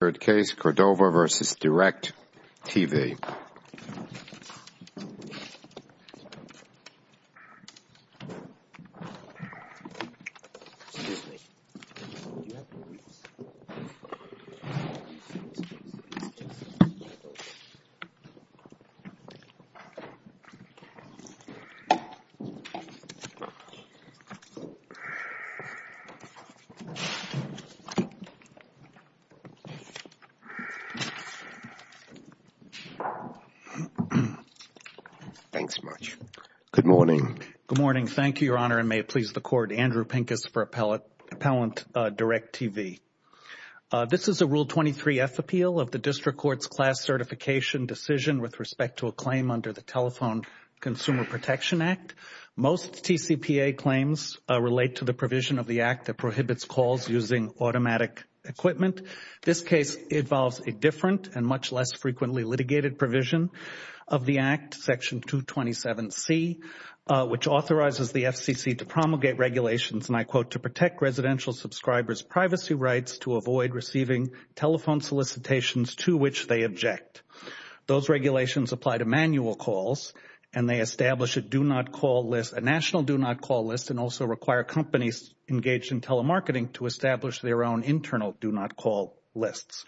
Third case, Cordova v. DIRECTV. Thank you, Your Honor, and may it please the Court, Andrew Pincus for Appellant DIRECTV. This is a Rule 23f appeal of the District Court's class certification decision with respect to a claim under the Telephone Consumer Protection Act. Most TCPA claims relate to the provision of the Act that prohibits calls using automatic equipment. This case involves a different and much less frequently litigated provision of the Act, Section 227c, which authorizes the FCC to promulgate regulations, and I quote, to protect residential subscribers' privacy rights to avoid receiving telephone solicitations to which they object. Those regulations apply to manual calls, and they establish a do-not-call list, a national do-not-call list, and also require companies engaged in telemarketing to establish their own internal do-not-call lists.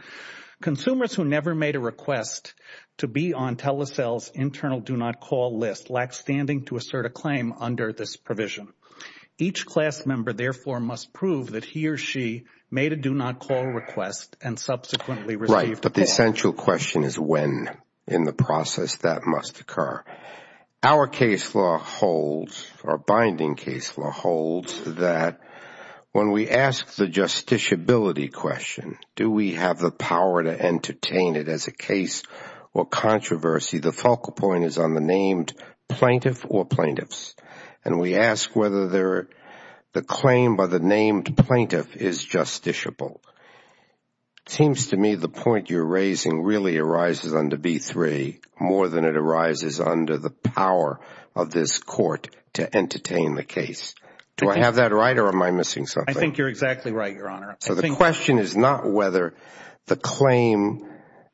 Consumers who never made a request to be on Telesel's internal do-not-call list lack standing to assert a claim under this provision. Each class member, therefore, must prove that he or she made a do-not-call request and subsequently received a call. Right, but the essential question is when in the process that must occur. Our case law holds, our binding case law holds that when we ask the justiciability question, do we have the power to entertain it as a case or controversy, the focal point is on the named plaintiff or plaintiffs, and we ask whether the claim by the named plaintiff is justiciable. It seems to me the point you're raising really arises under B-3 more than it arises under the power of this court to entertain the case. Do I have that right or am I missing something? I think you're exactly right, Your Honor. So the question is not whether the claim,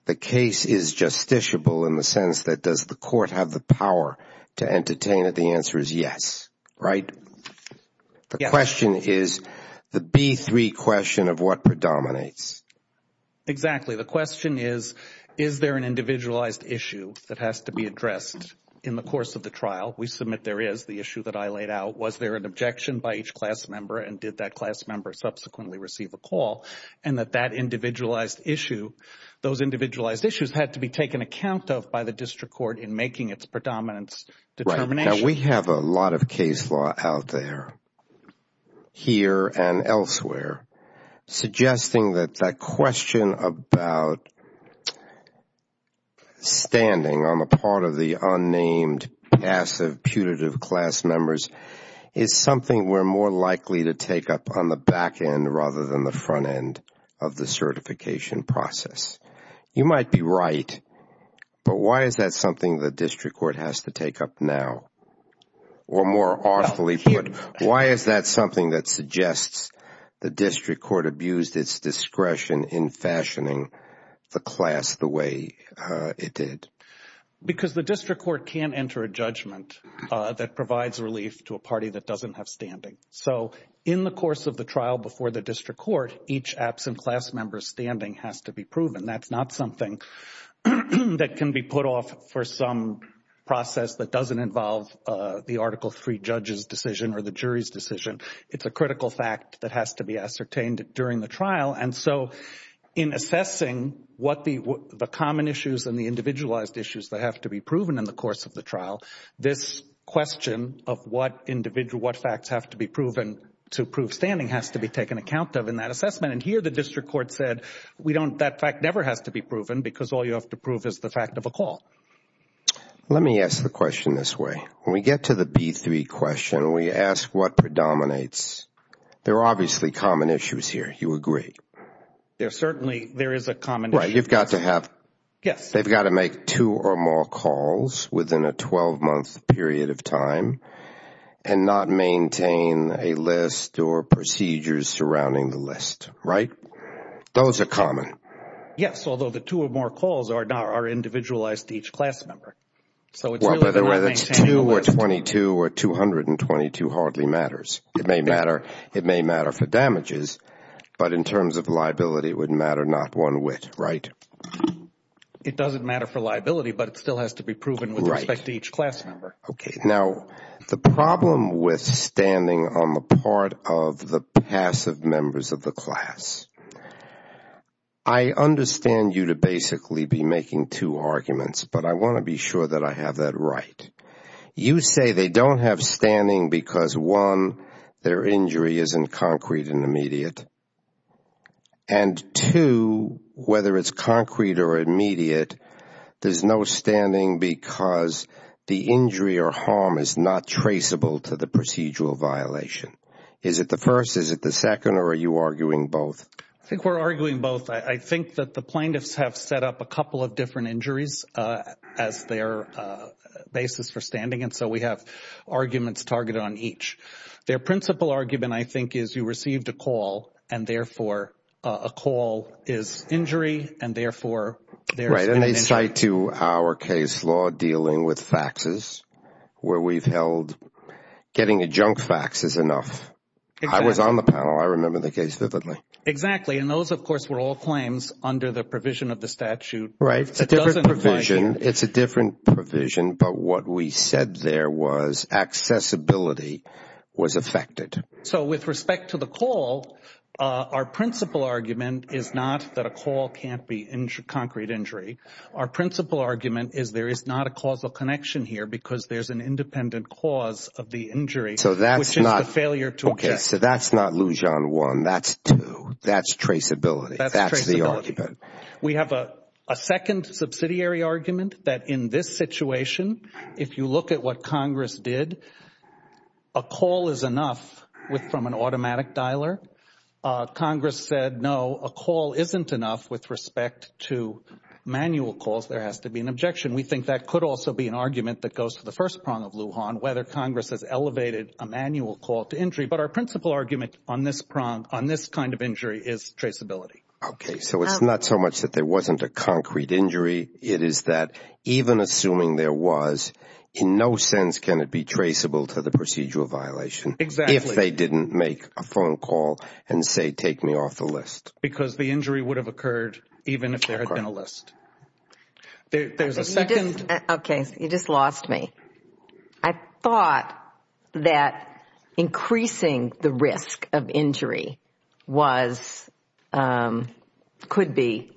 the case is justiciable in the sense that does the court have the power to entertain it? The answer is yes, right? The question is the B-3 question of what predominates. Exactly. The question is, is there an individualized issue that has to be addressed in the course of the trial? We submit there is the issue that I laid out. Was there an objection by each class member and did that class member subsequently receive a call? And that that individualized issue, those individualized issues had to be taken account of by the district court in making its predominance determination. We have a lot of case law out there, here and elsewhere, suggesting that that question about standing on the part of the unnamed, passive, putative class members is something we're more likely to take up on the back end rather than the front end of the certification process. You might be right, but why is that something the district court has to take up now? Or more awfully put, why is that something that suggests the district court abused its discretion in fashioning the class the way it did? Because the district court can enter a judgment that provides relief to a party that doesn't have standing. So in the course of the trial before the district court, each absent class member's standing has to be proven. That's not something that can be put off for some process that doesn't involve the Article 3 judge's decision or the jury's decision. It's a critical fact that has to be ascertained during the trial. And so in assessing what the common issues and the individualized issues that have to be proven in the course of the trial, this question of what facts have to be proven to prove standing has to be taken account of in that assessment. And here the district court said that fact never has to be proven because all you have to prove is the fact of a call. Let me ask the question this way. When we get to the B3 question, we ask what predominates. There are obviously common issues here. You agree? There are certainly, there is a common issue. You've got to have. Yes. They've got to make two or more calls within a 12-month period of time and not maintain a list or procedures surrounding the list, right? Those are common. Yes. Although the two or more calls are individualized to each class member. So it's really going to maintain the list. Well, whether it's two or 22 or 222 hardly matters. It may matter. It may matter for damages. But in terms of liability, it would matter not one whit, right? It doesn't matter for liability, but it still has to be proven with respect to each class member. Okay. Now, the problem with standing on the part of the passive members of the class, I understand you to basically be making two arguments, but I want to be sure that I have that right. You say they don't have standing because one, their injury isn't concrete and immediate. And two, whether it's concrete or immediate, there's no standing because the injury or harm is not traceable to the procedural violation. Is it the first? Is it the second? Or are you arguing both? I think we're arguing both. I think that the plaintiffs have set up a couple of different injuries as their basis for standing. And so we have arguments targeted on each. Their principal argument, I think, is you received a call and therefore a call is injury and therefore there's an injury. Right. And they cite to our case law dealing with faxes, where we've held getting a junk fax is enough. I was on the panel. I remember the case vividly. Exactly. And those, of course, were all claims under the provision of the statute. Right. It's a different provision. It's a different provision. But what we said there was accessibility was affected. So with respect to the call, our principal argument is not that a call can't be a concrete injury. Our principal argument is there is not a causal connection here because there's an independent cause of the injury, which is the failure to object. So that's not Lujan 1. That's traceability. That's traceability. That's the argument. We have a second subsidiary argument that in this situation, if you look at what Congress did, a call is enough from an automatic dialer. Congress said, no, a call isn't enough with respect to manual calls. There has to be an objection. We think that could also be an argument that goes to the first prong of Lujan, whether Congress has elevated a manual call to injury. But our principal argument on this prong, on this kind of injury, is traceability. Okay. So it's not so much that there wasn't a concrete injury. It is that even assuming there was, in no sense can it be traceable to the procedural violation if they didn't make a phone call and say, take me off the list. Because the injury would have occurred even if there had been a list. There's a second. Okay. You just lost me. I thought that increasing the risk of injury could be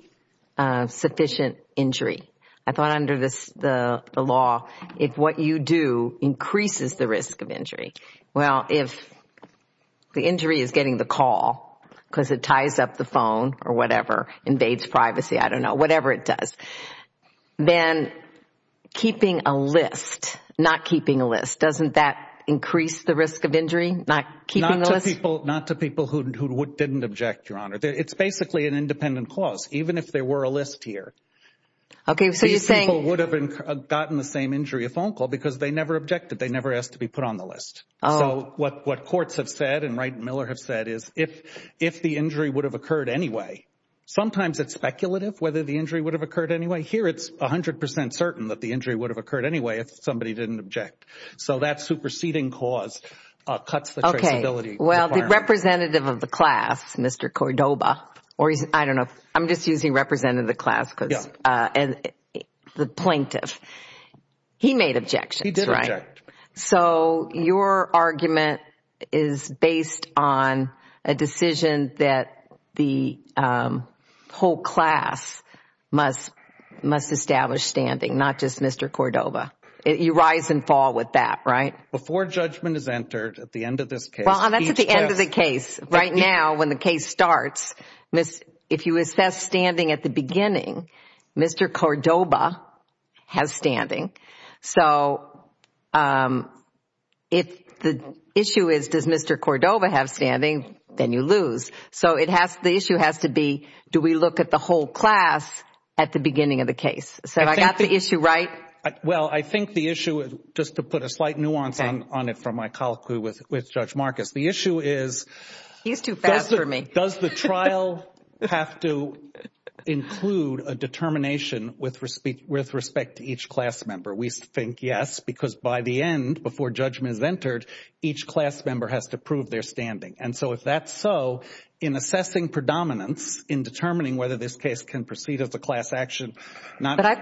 sufficient injury. I thought under the law, if what you do increases the risk of injury, well, if the injury is getting the call because it ties up the phone or whatever, invades privacy, I don't know, whatever it does, then keeping a list, not keeping a list, doesn't that increase the risk of injury, not keeping a list? Not to people who didn't object, Your Honor. It's basically an independent clause. Even if there were a list here, these people would have gotten the same injury, a phone call, because they never objected. They never asked to be put on the list. So what courts have said and Wright and Miller have said is, if the injury would have occurred anyway, sometimes it's speculative whether the injury would have occurred anyway. Here it's 100% certain that the injury would have occurred anyway if somebody didn't object. So that superseding clause cuts the traceability. Okay. Well, the representative of the class, Mr. Cordoba, or I don't know, I'm just using representative of the class because the plaintiff, he made objections, right? The whole class must establish standing, not just Mr. Cordoba. You rise and fall with that, right? Before judgment is entered at the end of this case... Well, that's at the end of the case. Right now, when the case starts, if you assess standing at the beginning, Mr. Cordoba has standing. So if the issue is, does Mr. Cordoba have standing, then you lose. So the issue has to be, do we look at the whole class at the beginning of the case? So I got the issue right? Well, I think the issue, just to put a slight nuance on it from my colloquy with Judge Marcus, the issue is... He's too fast for me.... does the trial have to include a determination with respect to each class member? We think yes, because by the end, before judgment is entered, each class member has to prove their standing. And so if that's so, in assessing predominance, in determining whether this case can proceed as a class action... But I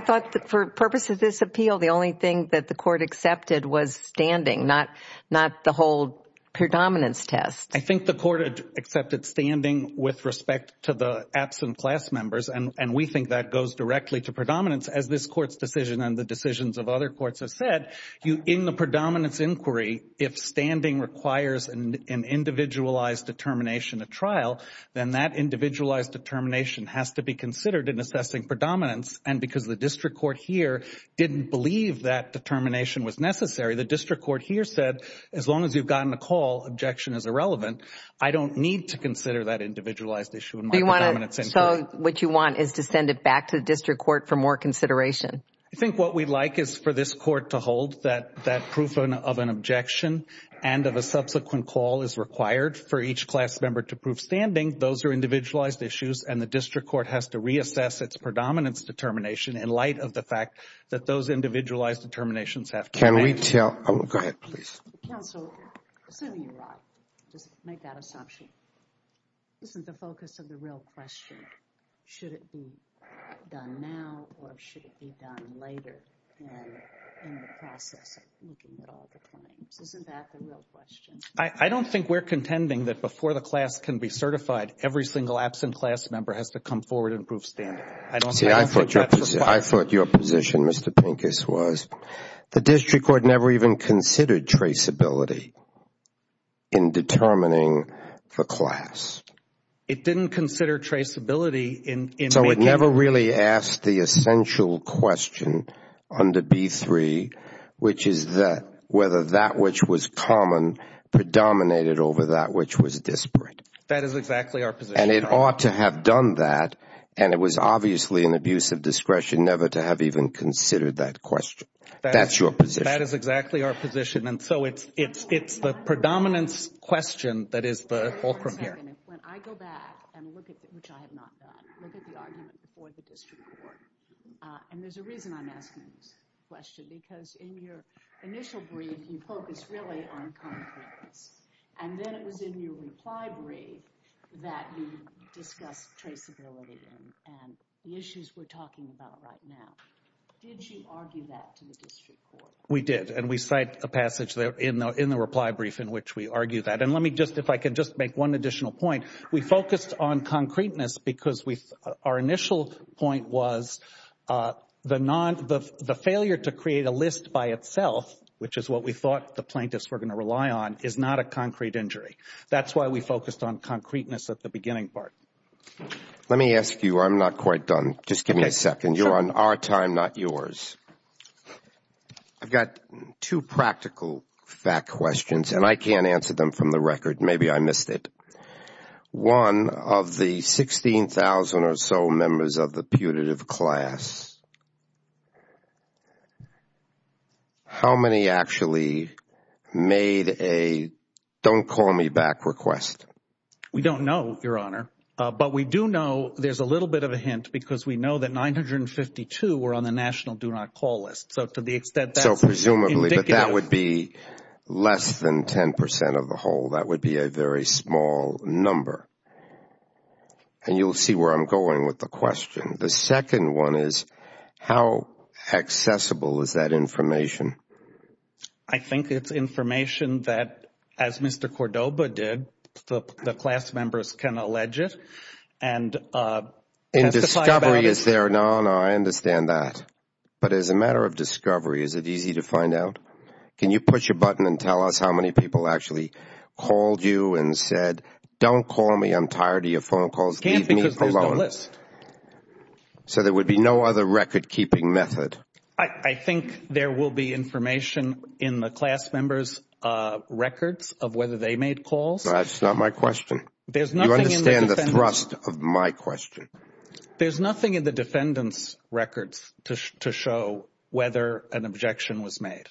thought, for purposes of this appeal, the only thing that the Court accepted was standing, not the whole predominance test. I think the Court accepted standing with respect to the absent class members, and we think that goes directly to predominance, as this Court's decision and the decisions of other courts have said. In the predominance inquiry, if standing requires an individualized determination at trial, then that individualized determination has to be considered in assessing predominance. And because the District Court here didn't believe that determination was necessary, the District Court here said, as long as you've gotten a call, objection is irrelevant. I don't need to consider that individualized issue in my predominance inquiry. So what you want is to send it back to the District Court for more consideration? I think what we'd like is for this Court to hold that proof of an objection and of a subsequent call is required for each class member to prove standing. Those are individualized issues, and the District Court has to reassess its predominance determination in light of the fact that those individualized determinations have... Can we tell... Go ahead, please. Counsel, assuming you're right, just make that assumption, isn't the focus of the real question, should it be done now or should it be done later in the process of looking at all the claims? Isn't that the real question? I don't think we're contending that before the class can be certified, every single absent class member has to come forward and prove standing. I don't think that's required. See, I thought your position, Mr. Pincus, was the District Court never even considered traceability in determining the class. It didn't consider traceability in... So it never really asked the essential question under B-3, which is that whether that which was common predominated over that which was disparate. That is exactly our position. And it ought to have done that, and it was obviously an abuse of discretion never to have even considered that question. That's your position. That is exactly our position, and so it's the predominance question that is the fulcrum Wait a second. When I go back and look at, which I have not done, look at the argument before the District Court, and there's a reason I'm asking this question, because in your initial brief, you focused really on competence, and then it was in your reply brief that you discussed traceability and the issues we're talking about right now. Did you argue that to the District Court? We did, and we cite a passage there in the reply brief in which we argue that. And let me just, if I can just make one additional point. We focused on concreteness because our initial point was the failure to create a list by itself, which is what we thought the plaintiffs were going to rely on, is not a concrete injury. That's why we focused on concreteness at the beginning part. Let me ask you, I'm not quite done. Just give me a second. You're on our time, not yours. I've got two practical fact questions, and I can't answer them from the record. Maybe I missed it. One, of the 16,000 or so members of the putative class, how many actually made a don't call me back request? We don't know, Your Honor. But we do know, there's a little bit of a hint, because we know that 952 were on the national do not call list. So to the extent that's indicative. So presumably, but that would be less than 10 percent of the whole. That would be a very small number. And you'll see where I'm going with the question. The second one is, how accessible is that information? I think it's information that, as Mr. Cordoba did, the class members can allege it. In discovery, is there, no, no, I understand that. But as a matter of discovery, is it easy to find out? Can you push a button and tell us how many people actually called you and said, don't call me, I'm tired of your phone calls, leave me alone. So there would be no other record keeping method. I think there will be information in the class members' records of whether they made calls. That's not my question. You understand the thrust of my question. There's nothing in the defendant's records to show whether an objection was made.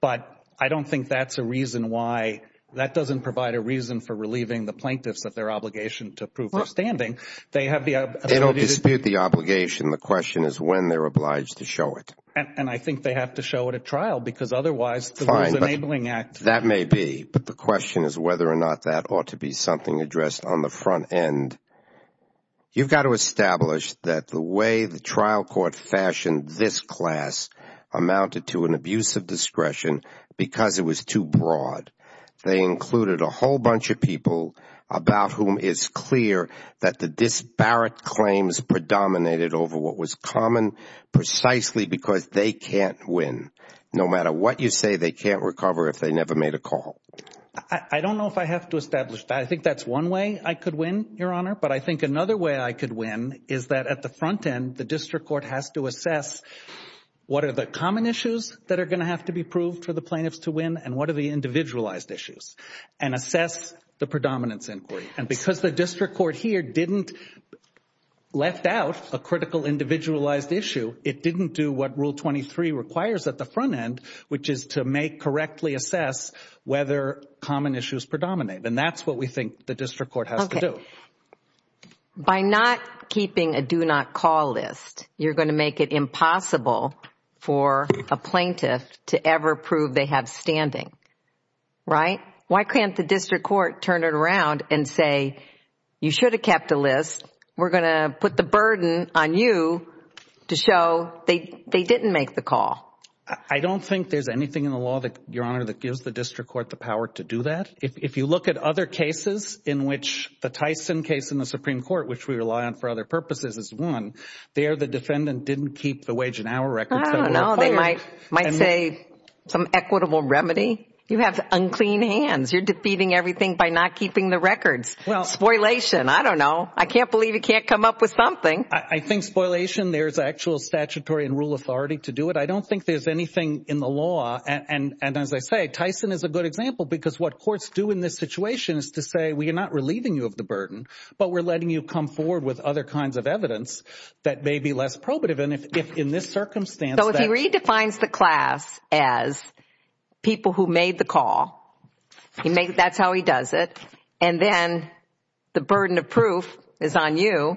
But I don't think that's a reason why, that doesn't provide a reason for relieving the plaintiffs of their obligation to prove their standing. They have the ability to. They don't dispute the obligation. The question is when they're obliged to show it. And I think they have to show it at trial, because otherwise the Rules Enabling Act. That may be. But the question is whether or not that ought to be something addressed on the front end. You've got to establish that the way the trial court fashioned this class amounted to an abuse of discretion because it was too broad. They included a whole bunch of people about whom it's clear that the disparate claims predominated over what was common precisely because they can't win. No matter what you say, they can't recover if they never made a call. I don't know if I have to establish that. I think that's one way I could win, Your Honor. But I think another way I could win is that at the front end, the district court has to assess what are the common issues that are going to have to be proved for the plaintiffs to win and what are the individualized issues and assess the predominance inquiry. And because the district court here didn't left out a critical individualized issue, it didn't do what Rule 23 requires at the front end, which is to make correctly assess whether common issues predominate. And that's what we think the district court has to do. By not keeping a do not call list, you're going to make it impossible for a plaintiff to ever prove they have standing, right? Why can't the district court turn it around and say, you should have kept a list. We're going to put the burden on you to show they didn't make the call. I don't think there's anything in the law, Your Honor, that gives the district court the power to do that. If you look at other cases in which the Tyson case in the Supreme Court, which we rely on for other purposes, is one, there the defendant didn't keep the wage and hour records. I don't know. They might say some equitable remedy. You have unclean hands. You're defeating everything by not keeping the records. Spoilation. I don't know. I can't believe you can't come up with something. I think spoilation, there's actual statutory and rule authority to do it. I don't think there's anything in the law, and as I say, Tyson is a good example because what courts do in this situation is to say, we are not relieving you of the burden, but we're letting you come forward with other kinds of evidence that may be less probative. And if in this circumstance, that's... So if he redefines the class as people who made the call, that's how he does it, and then the burden of proof is on you,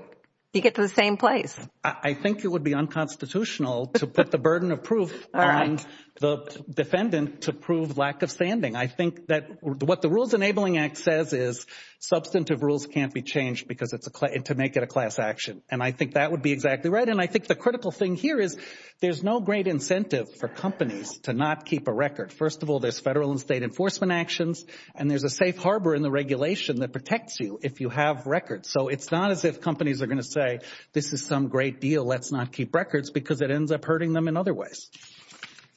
you get to the same place. I think it would be unconstitutional to put the burden of proof on the defendant to prove lack of standing. I think that what the Rules Enabling Act says is substantive rules can't be changed because it's a... And to make it a class action. And I think that would be exactly right. And I think the critical thing here is there's no great incentive for companies to not keep a record. First of all, there's federal and state enforcement actions, and there's a safe harbor in the regulation that protects you if you have records. So it's not as if companies are going to say, this is some great deal, let's not keep records because it ends up hurting them in other ways.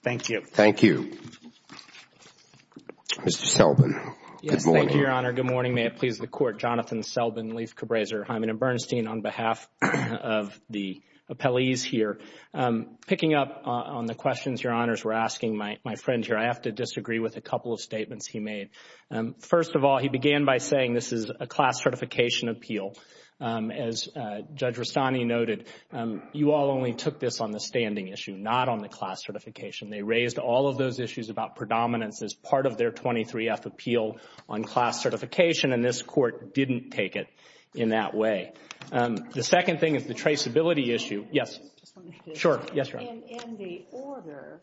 Thank you. Thank you. Mr. Selbin. Good morning. Yes. Thank you, Your Honor. Good morning. May it please the Court. Jonathan Selbin, Leif Cabraser, Hyman and Bernstein on behalf of the appellees here. Picking up on the questions Your Honors were asking my friends here, I have to disagree with a couple of statements he made. First of all, he began by saying this is a class certification appeal. As Judge Rastani noted, you all only took this on the standing issue, not on the class certification. They raised all of those issues about predominance as part of their 23F appeal on class certification, and this Court didn't take it in that way. The second thing is the traceability issue. Yes. Sure. Yes, Your Honor. In the order,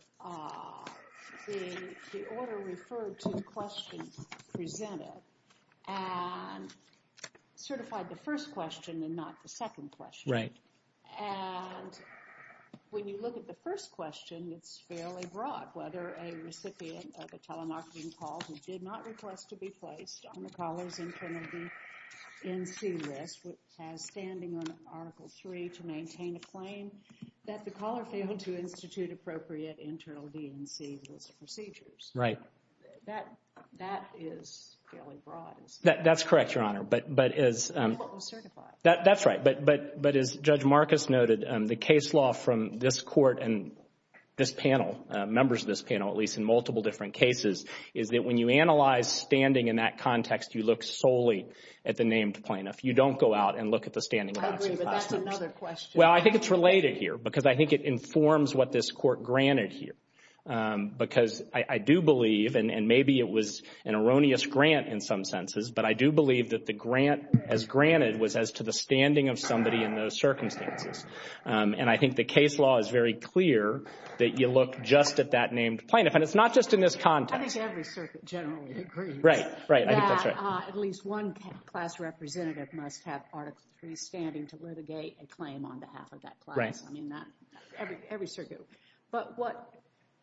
the order referred to the questions presented and certified the first question and not the second question. Right. And when you look at the first question, it's fairly broad, whether a recipient of a telemarketing call who did not request to be placed on the caller's internal DNC list has standing on to maintain a claim that the caller failed to institute appropriate internal DNC list procedures. Right. That, that is fairly broad. That's correct, Your Honor. But as... That's what was certified. That's right. But as Judge Marcus noted, the case law from this Court and this panel, members of this panel at least in multiple different cases, is that when you analyze standing in that context, you look solely at the named plaintiff. You don't go out and look at the standing. I agree, but that's another question. Well, I think it's related here because I think it informs what this Court granted here. Because I do believe, and maybe it was an erroneous grant in some senses, but I do believe that the grant as granted was as to the standing of somebody in those circumstances. And I think the case law is very clear that you look just at that named plaintiff. And it's not just in this context. I think every circuit generally agrees. Right. Right. I think that's right. At least one class representative must have Article III standing to litigate a claim on behalf of that class. Right. I mean, that... Every circuit. But what...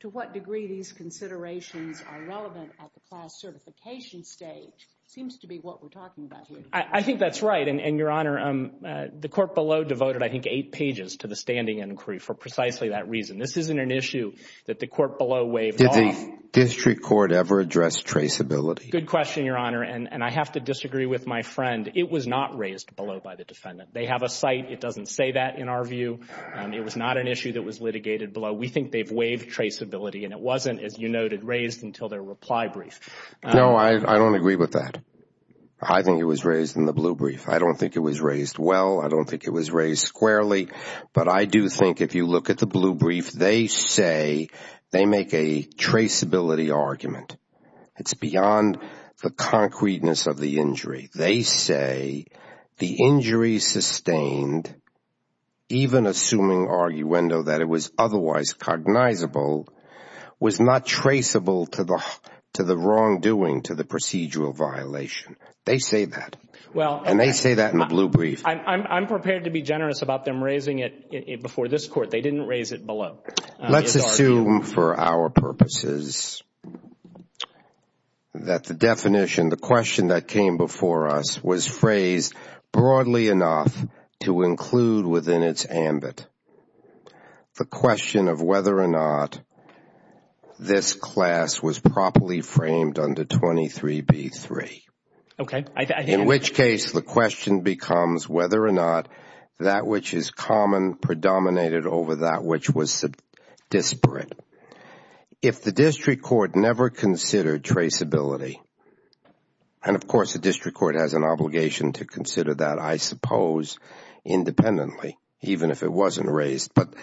To what degree these considerations are relevant at the class certification stage seems to be what we're talking about here. I think that's right. And Your Honor, the Court below devoted, I think, eight pages to the standing inquiry for precisely that reason. This isn't an issue that the Court below waived off. Did the district court ever address traceability? Good question, Your Honor. And I have to disagree with my friend. It was not raised below by the defendant. They have a site. It doesn't say that, in our view. It was not an issue that was litigated below. We think they've waived traceability, and it wasn't, as you noted, raised until their reply brief. No, I don't agree with that. I think it was raised in the blue brief. I don't think it was raised well. I don't think it was raised squarely. But I do think if you look at the blue brief, they say they make a traceability argument. It's beyond the concreteness of the injury. They say the injury sustained, even assuming arguendo that it was otherwise cognizable, was not traceable to the wrongdoing, to the procedural violation. They say that. And they say that in the blue brief. I'm prepared to be generous about them raising it before this Court. They didn't raise it below. Let's assume, for our purposes, that the definition, the question that came before us, was phrased broadly enough to include within its ambit the question of whether or not this class was properly framed under 23b-3, in which case the question becomes whether or not that which is common predominated over that which was disparate. If the district court never considered traceability, and of course the district court has an obligation to consider that, I suppose, independently, even if it wasn't raised, but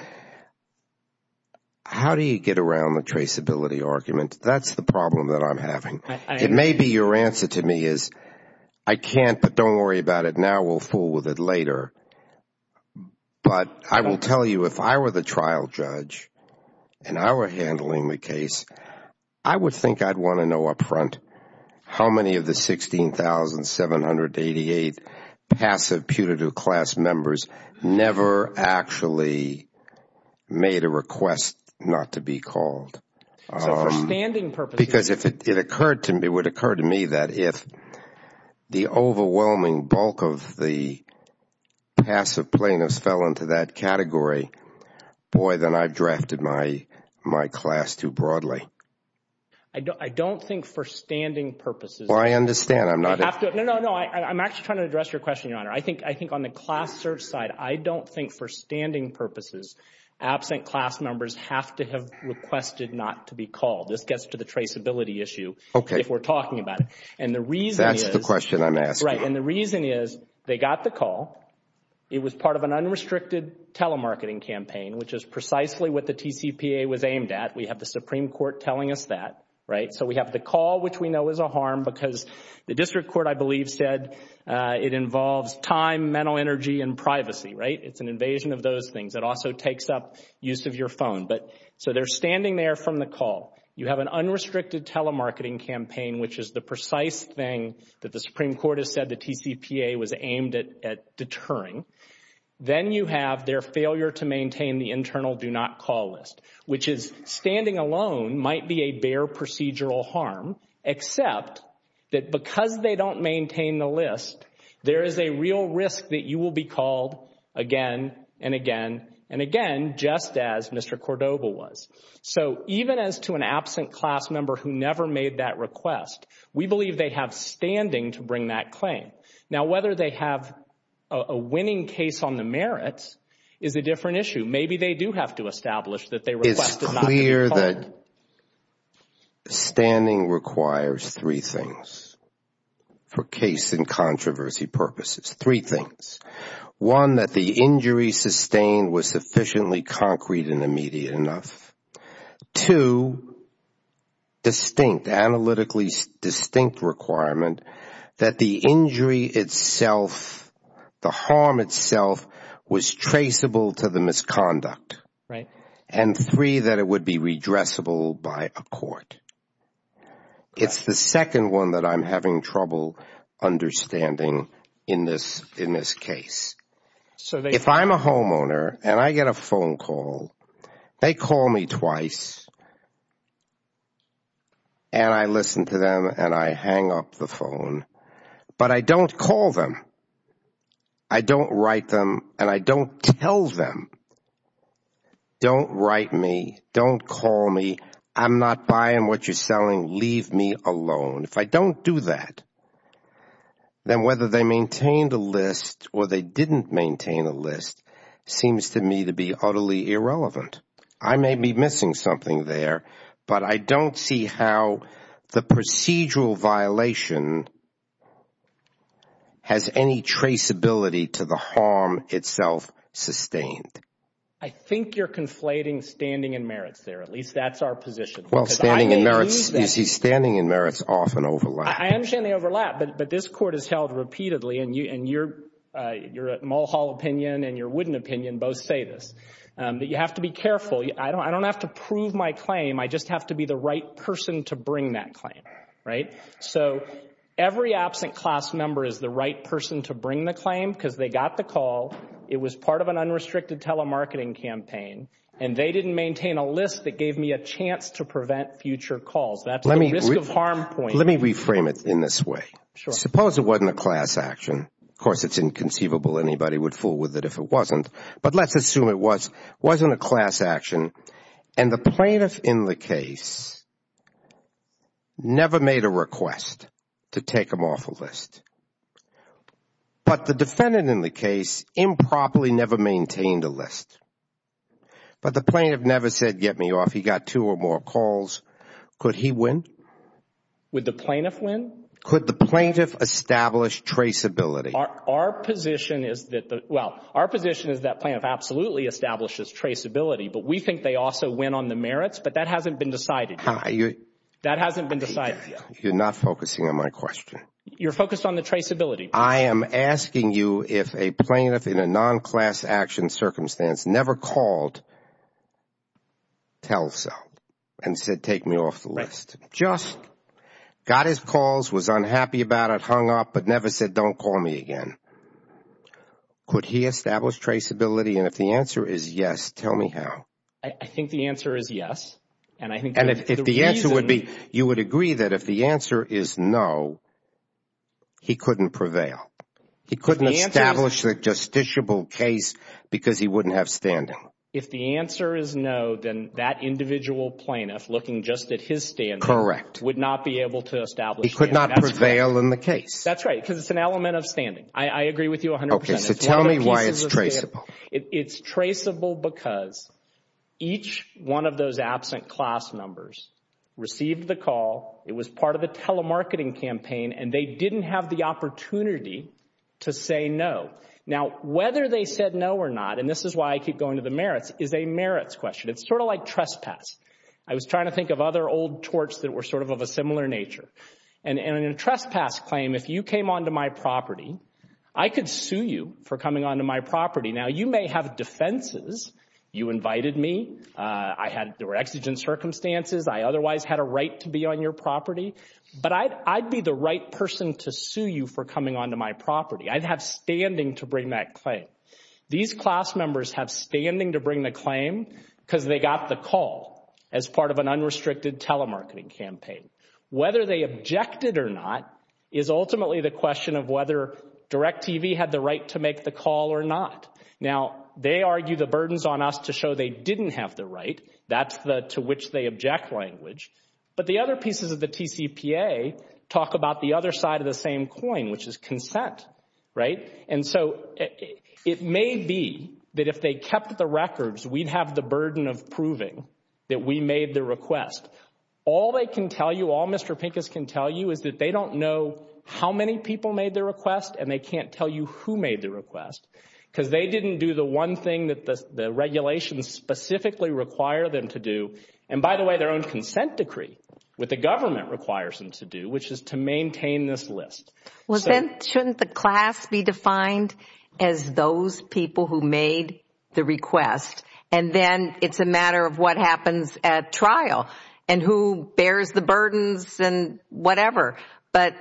how do you get around the traceability argument? That's the problem that I'm having. It may be your answer to me is, I can't, but don't worry about it now, we'll fool with it later. But I will tell you, if I were the trial judge and I were handling the case, I would think I'd want to know up front how many of the 16,788 passive putative class members never actually made a request not to be called. So for standing purposes. Because it would occur to me that if the overwhelming bulk of the passive plaintiffs fell into that category, boy, then I've drafted my class too broadly. I don't think for standing purposes. I understand. No, no, no. I'm actually trying to address your question, Your Honor. I think on the class search side, I don't think for standing purposes absent class members have to have requested not to be called. This gets to the traceability issue if we're talking about it. And the reason is, they got the call. It was part of an unrestricted telemarketing campaign, which is precisely what the TCPA was aimed at. We have the Supreme Court telling us that. So we have the call, which we know is a harm because the district court, I believe, said it involves time, mental energy, and privacy. It's an invasion of those things. It also takes up use of your phone. So they're standing there from the call. You have an unrestricted telemarketing campaign, which is the precise thing that the Supreme Court has said the TCPA was aimed at deterring. Then you have their failure to maintain the internal do not call list, which is standing alone might be a bare procedural harm, except that because they don't maintain the list, there is a real risk that you will be called again and again and again, just as Mr. Cordova was. So even as to an absent class member who never made that request, we believe they have standing to bring that claim. Now whether they have a winning case on the merits is a different issue. It's clear that standing requires three things for case and controversy purposes. Three things. One, that the injury sustained was sufficiently concrete and immediate enough. Two, distinct, analytically distinct requirement that the injury itself, the harm itself was traceable to the misconduct. Right. And three, that it would be redressable by a court. It's the second one that I'm having trouble understanding in this case. So if I'm a homeowner and I get a phone call, they call me twice and I listen to them and I hang up the phone, but I don't call them. I don't write them and I don't tell them, don't write me, don't call me, I'm not buying what you're selling, leave me alone. If I don't do that, then whether they maintained a list or they didn't maintain a list seems to me to be utterly irrelevant. I may be missing something there, but I don't see how the procedural violation has any traceability to the harm itself sustained. I think you're conflating standing and merits there. At least that's our position. Well, standing and merits, you see, standing and merits often overlap. I understand they overlap, but this court has held repeatedly, and your Mulhall opinion and your Wooden opinion both say this, that you have to be careful. I don't have to prove my claim, I just have to be the right person to bring that claim. So every absent class member is the right person to bring the claim because they got the call, it was part of an unrestricted telemarketing campaign, and they didn't maintain a list that gave me a chance to prevent future calls. That's the risk of harm point. Let me reframe it in this way. Suppose it wasn't a class action. Of course, it's inconceivable anybody would fool with it if it wasn't. But let's assume it wasn't a class action, and the plaintiff in the case never made a request to take him off a list. But the defendant in the case improperly never maintained a list. But the plaintiff never said, get me off, he got two or more calls. Could he win? Would the plaintiff win? Our position is that, well, our position is that plaintiff absolutely establishes traceability, but we think they also win on the merits, but that hasn't been decided yet. That hasn't been decided yet. You're not focusing on my question. You're focused on the traceability. I am asking you if a plaintiff in a non-class action circumstance never called, tell cell, and said take me off the list. Just got his calls, was unhappy about it, hung up, but never said don't call me again. Could he establish traceability? And if the answer is yes, tell me how. I think the answer is yes. And I think the reason. And if the answer would be, you would agree that if the answer is no, he couldn't prevail. He couldn't establish the justiciable case because he wouldn't have standing. If the answer is no, then that individual plaintiff looking just at his stand, correct, would not be able to establish. He could not prevail in the case. That's right. Because it's an element of standing. I agree with you 100 percent. So tell me why it's traceable. It's traceable because each one of those absent class numbers received the call. It was part of the telemarketing campaign and they didn't have the opportunity to say no. Now, whether they said no or not, and this is why I keep going to the merits, is a merits question. It's sort of like trespass. I was trying to think of other old torts that were sort of of a similar nature. And in a trespass claim, if you came onto my property, I could sue you for coming onto my property. Now, you may have defenses. You invited me. There were exigent circumstances. I otherwise had a right to be on your property. But I'd be the right person to sue you for coming onto my property. I'd have standing to bring that claim. These class members have standing to bring the claim because they got the call as part of an unrestricted telemarketing campaign. Whether they objected or not is ultimately the question of whether DirecTV had the right to make the call or not. Now, they argue the burdens on us to show they didn't have the right. That's the to which they object language. But the other pieces of the TCPA talk about the other side of the same coin, which is consent, right? And so it may be that if they kept the records, we'd have the burden of proving that we made the request. All they can tell you, all Mr. Pincus can tell you is that they don't know how many people made the request and they can't tell you who made the request because they didn't do the one thing that the regulations specifically require them to do. And by the way, their own consent decree, what the government requires them to do, which is to maintain this list. Well, then shouldn't the class be defined as those people who made the request? And then it's a matter of what happens at trial and who bears the burdens and whatever. But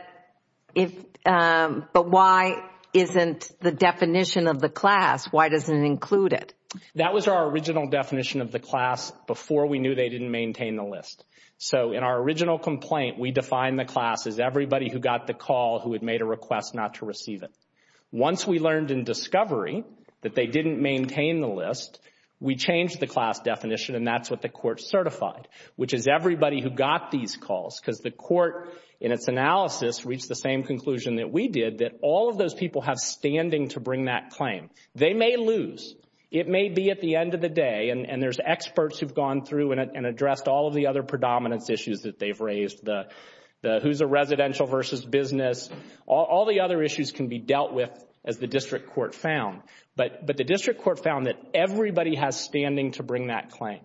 if, but why isn't the definition of the class? Why doesn't it include it? That was our original definition of the class before we knew they didn't maintain the list. So in our original complaint, we defined the class as everybody who got the call who had made a request not to receive it. Once we learned in discovery that they didn't maintain the list, we changed the class definition and that's what the court certified, which is everybody who got these calls because the court in its analysis reached the same conclusion that we did, that all of those people have standing to bring that claim. They may lose. It may be at the end of the day, and there's experts who've gone through and addressed all of the other predominance issues that they've raised, the who's a residential versus business, all the other issues can be dealt with as the district court found. But the district court found that everybody has standing to bring that claim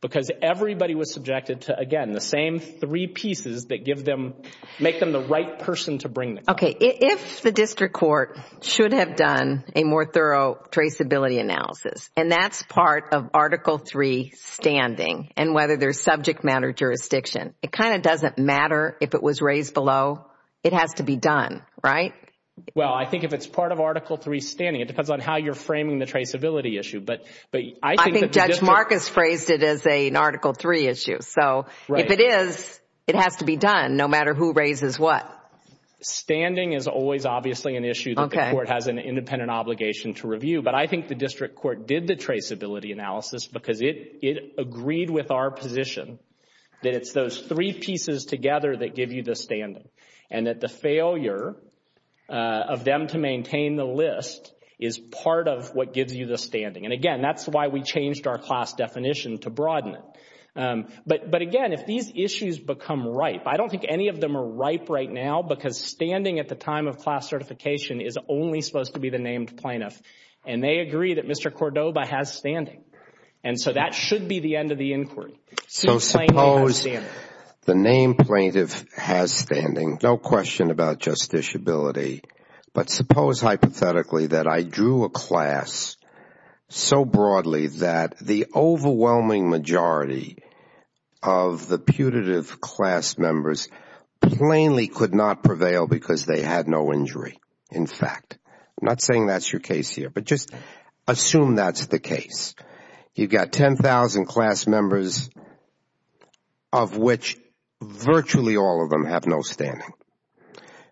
because everybody was subjected to, again, the same three pieces that give them, make them the right person to bring the claim. Okay. If the district court should have done a more thorough traceability analysis, and that's part of Article III standing and whether there's subject matter jurisdiction, it kind of doesn't matter if it was raised below. It has to be done, right? Well, I think if it's part of Article III standing, it depends on how you're framing the traceability issue, but I think that the district... I think Judge Marcus phrased it as an Article III issue. So if it is, it has to be done no matter who raises what. Standing is always obviously an issue that the court has an independent obligation to review, but I think the district court did the traceability analysis because it agreed with our position that it's those three pieces together that give you the standing, and that the failure of them to maintain the list is part of what gives you the standing. And again, that's why we changed our class definition to broaden it. But again, if these issues become ripe, I don't think any of them are ripe right now because standing at the time of class certification is only supposed to be the named plaintiff, and they agree that Mr. Cordoba has standing, and so that should be the end of the inquiry. So suppose the named plaintiff has standing, no question about justiciability, but suppose hypothetically that I drew a class so broadly that the overwhelming majority of the putative class members plainly could not prevail because they had no injury, in fact. I'm not saying that's your case here, but just assume that's the case. You've got 10,000 class members of which virtually all of them have no standing.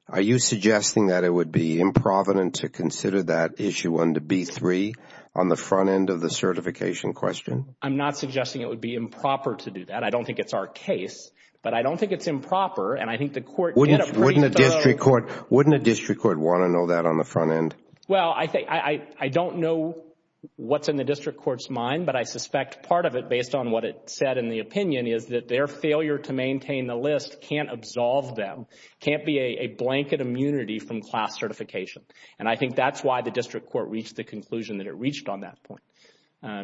Are you suggesting that it would be improvident to consider that issue under B-3 on the front end of the certification question? I'm not suggesting it would be improper to do that. I don't think it's our case, but I don't think it's improper, and I think the Court would get a pretty thorough… Wouldn't a district court want to know that on the front end? Well, I don't know what's in the district court's mind, but I suspect part of it based on what it said in the opinion is that their failure to maintain the list can't absolve them, can't be a blanket immunity from class certification. And I think that's why the district court reached the conclusion that it reached on that point,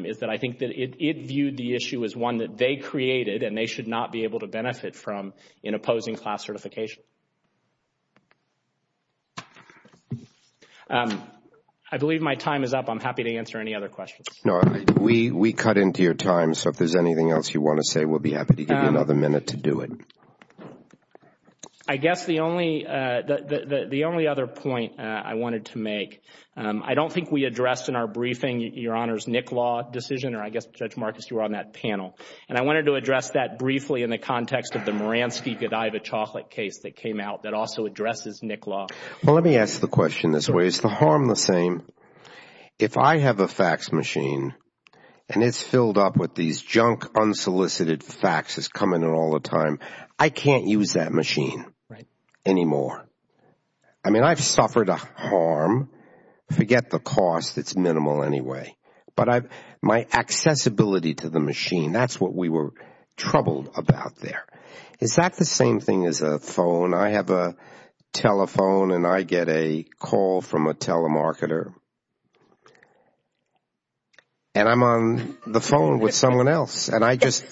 is that I think that it viewed the issue as one that they created and they should not be able to benefit from in opposing class certification. I believe my time is up. I'm happy to answer any other questions. No, we cut into your time, so if there's anything else you want to say, we'll be happy to give you another minute to do it. I guess the only other point I wanted to make, I don't think we addressed in our briefing Your Honor's Nick Law decision, or I guess Judge Marcus, you were on that panel, and I wanted to address that briefly in the context of the Moransky-Godiva chocolate case that came out that also addresses Nick Law. Well, let me ask the question this way. Is the harm the same? If I have a fax machine and it's filled up with these junk unsolicited faxes coming in all the time, I can't use that machine anymore. I mean, I've suffered a harm. Forget the cost, it's minimal anyway. But my accessibility to the machine, that's what we were troubled about there. Is that the same thing as a phone? I have a telephone and I get a call from a telemarketer, and I'm on the phone with someone else and I just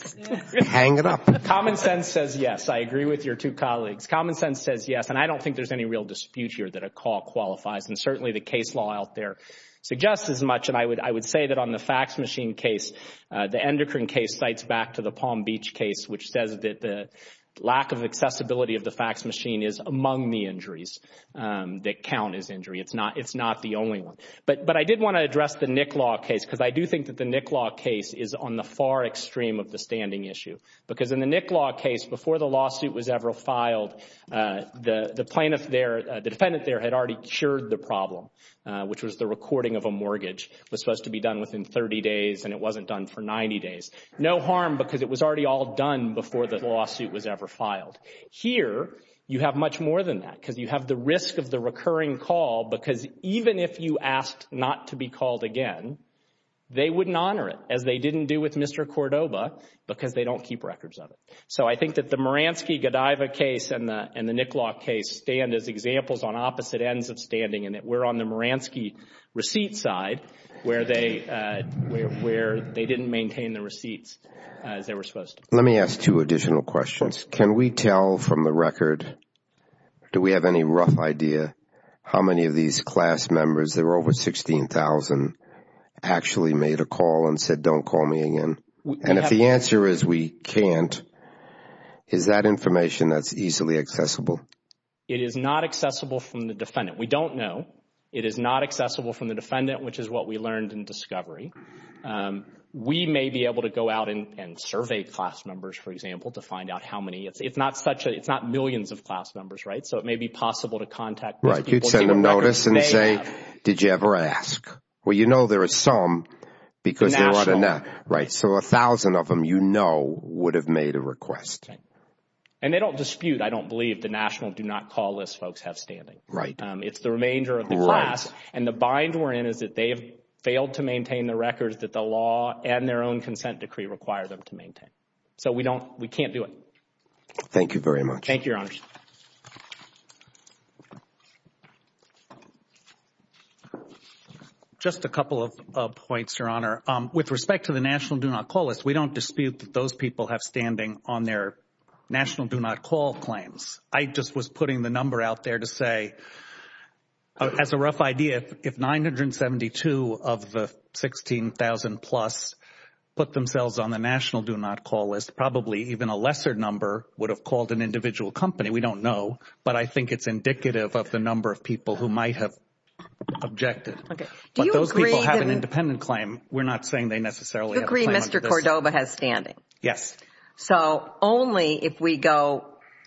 hang it up. Common sense says yes. I agree with your two colleagues. Common sense says yes, and I don't think there's any real dispute here that a call qualifies, and certainly the case law out there suggests as much, and I would say that on the fax machine case, the Endocrine case cites back to the Palm Beach case, which says that the lack of accessibility of the fax machine is among the injuries that count as injury. It's not the only one. But I did want to address the Nick Law case, because I do think that the Nick Law case is on the far extreme of the standing issue. Because in the Nick Law case, before the lawsuit was ever filed, the plaintiff there, the defendant there had already cured the problem, which was the recording of a mortgage was supposed to be done within 30 days, and it wasn't done for 90 days. No harm, because it was already all done before the lawsuit was ever filed. Here, you have much more than that, because you have the risk of the recurring call, because even if you asked not to be called again, they wouldn't honor it, as they didn't do with Mr. Cordoba, because they don't keep records of it. So I think that the Moransky-Godiva case and the Nick Law case stand as examples on opposite ends of standing, and that we're on the Moransky receipt side, where they didn't maintain the receipts as they were supposed to. Let me ask two additional questions. Can we tell from the record, do we have any rough idea, how many of these class members, there were over 16,000, actually made a call and said, don't call me again? And if the answer is we can't, is that information that's easily accessible? It is not accessible from the defendant. We don't know. It is not accessible from the defendant, which is what we learned in discovery. We may be able to go out and survey class members, for example, to find out how many. It's not such a, it's not millions of class members, right? So it may be possible to contact those people. Right. You'd send them notice and say, did you ever ask? Well, you know there are some, because there aren't enough. Right. So a thousand of them, you know, would have made a request. And they don't dispute, I don't believe, the national do not call list folks have standing. Right. They have standing in the records that the law and their own consent decree require them to maintain. So we don't, we can't do it. Thank you very much. Thank you, Your Honor. Just a couple of points, Your Honor. With respect to the national do not call list, we don't dispute that those people have standing on their national do not call claims. I just was putting the number out there to say, as a rough idea, if 972 of the 16,000 plus put themselves on the national do not call list, probably even a lesser number would have called an individual company. We don't know. But I think it's indicative of the number of people who might have objected. Okay. Do you agree? But those people have an independent claim. We're not saying they necessarily have a claim. You agree Mr. Cordova has standing? Yes. So only if we go,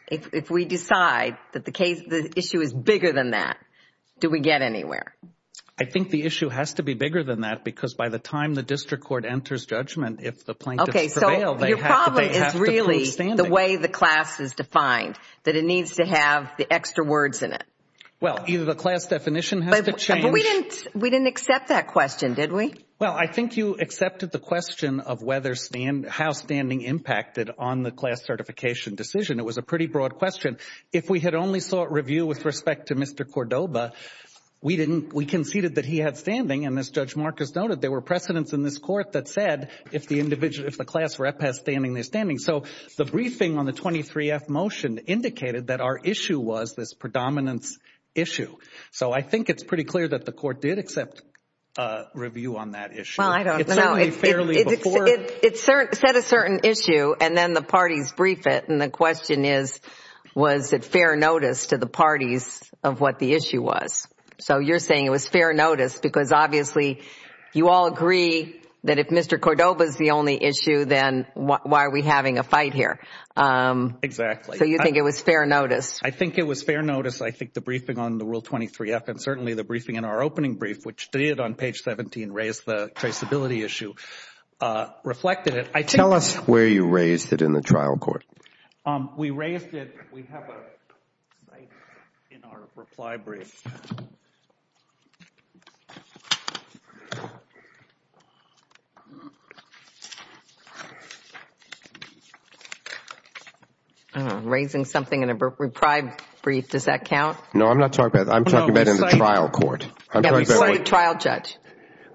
if we decide that the issue is bigger than that, do we get anywhere? I think the issue has to be bigger than that because by the time the district court enters judgment if the plaintiffs prevail, they have to prove standing. Your problem is really the way the class is defined, that it needs to have the extra words in it. Well, either the class definition has to change. We didn't accept that question, did we? Well, I think you accepted the question of how standing impacted on the class certification decision. It was a pretty broad question. If we had only sought review with respect to Mr. Cordova, we conceded that he had standing and as Judge Marcus noted, there were precedents in this court that said if the class rep has standing, they're standing. So the briefing on the 23F motion indicated that our issue was this predominance issue. So I think it's pretty clear that the court did accept a review on that issue. Well, I don't know. It said a certain issue and then the parties briefed it and the question is, was it fair notice to the parties of what the issue was? So you're saying it was fair notice because obviously you all agree that if Mr. Cordova is the only issue, then why are we having a fight here? Exactly. So you think it was fair notice? I think it was fair notice. I think the briefing on the Rule 23F and certainly the briefing in our opening brief, which did on page 17 raise the traceability issue, reflected it. Tell us where you raised it in the trial court. We raised it, we have a slide in our reply brief. Raising something in a reply brief, does that count? No, I'm not talking about that. I'm talking about in the trial court. Yeah, before the trial judge.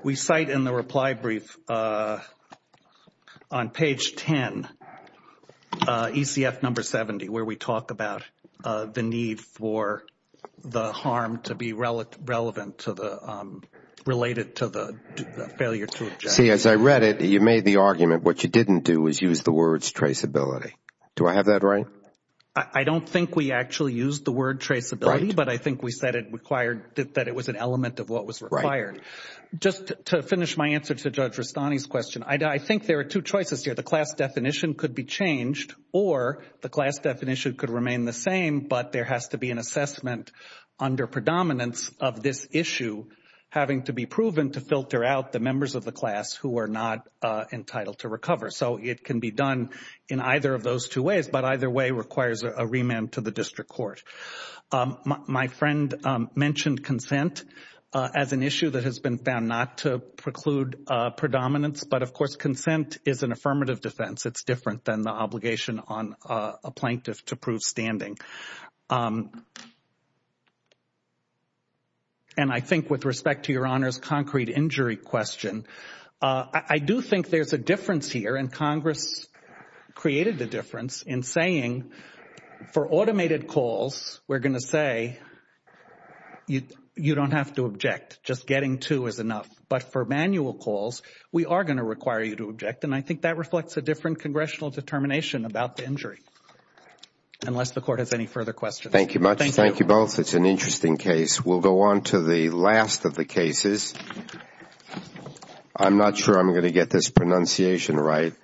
We cite in the reply brief on page 10, ECF number 70, where we talk about the need for the harm to be relevant to the, related to the failure to object. See, as I read it, you made the argument what you didn't do was use the words traceability. Do I have that right? I don't think we actually used the word traceability, but I think we said it required, that it was an element of what was required. Just to finish my answer to Judge Rustani's question, I think there are two choices here. The class definition could be changed or the class definition could remain the same, but there has to be an assessment under predominance of this issue having to be proven to filter out the members of the class who are not entitled to recover. So it can be done in either of those two ways, but either way requires a remand to the district court. My friend mentioned consent as an issue that has been found not to preclude predominance, but of course consent is an affirmative defense. It's different than the obligation on a plaintiff to prove standing. And I think with respect to Your Honor's concrete injury question, I do think there's a difference here and Congress created the difference in saying for automated calls, we're going to say you don't have to object. Just getting to is enough. But for manual calls, we are going to require you to object and I think that reflects a congressional determination about the injury, unless the court has any further questions. Thank you both. It's an interesting case. We'll go on to the last of the cases. I'm not sure I'm going to get this pronunciation right.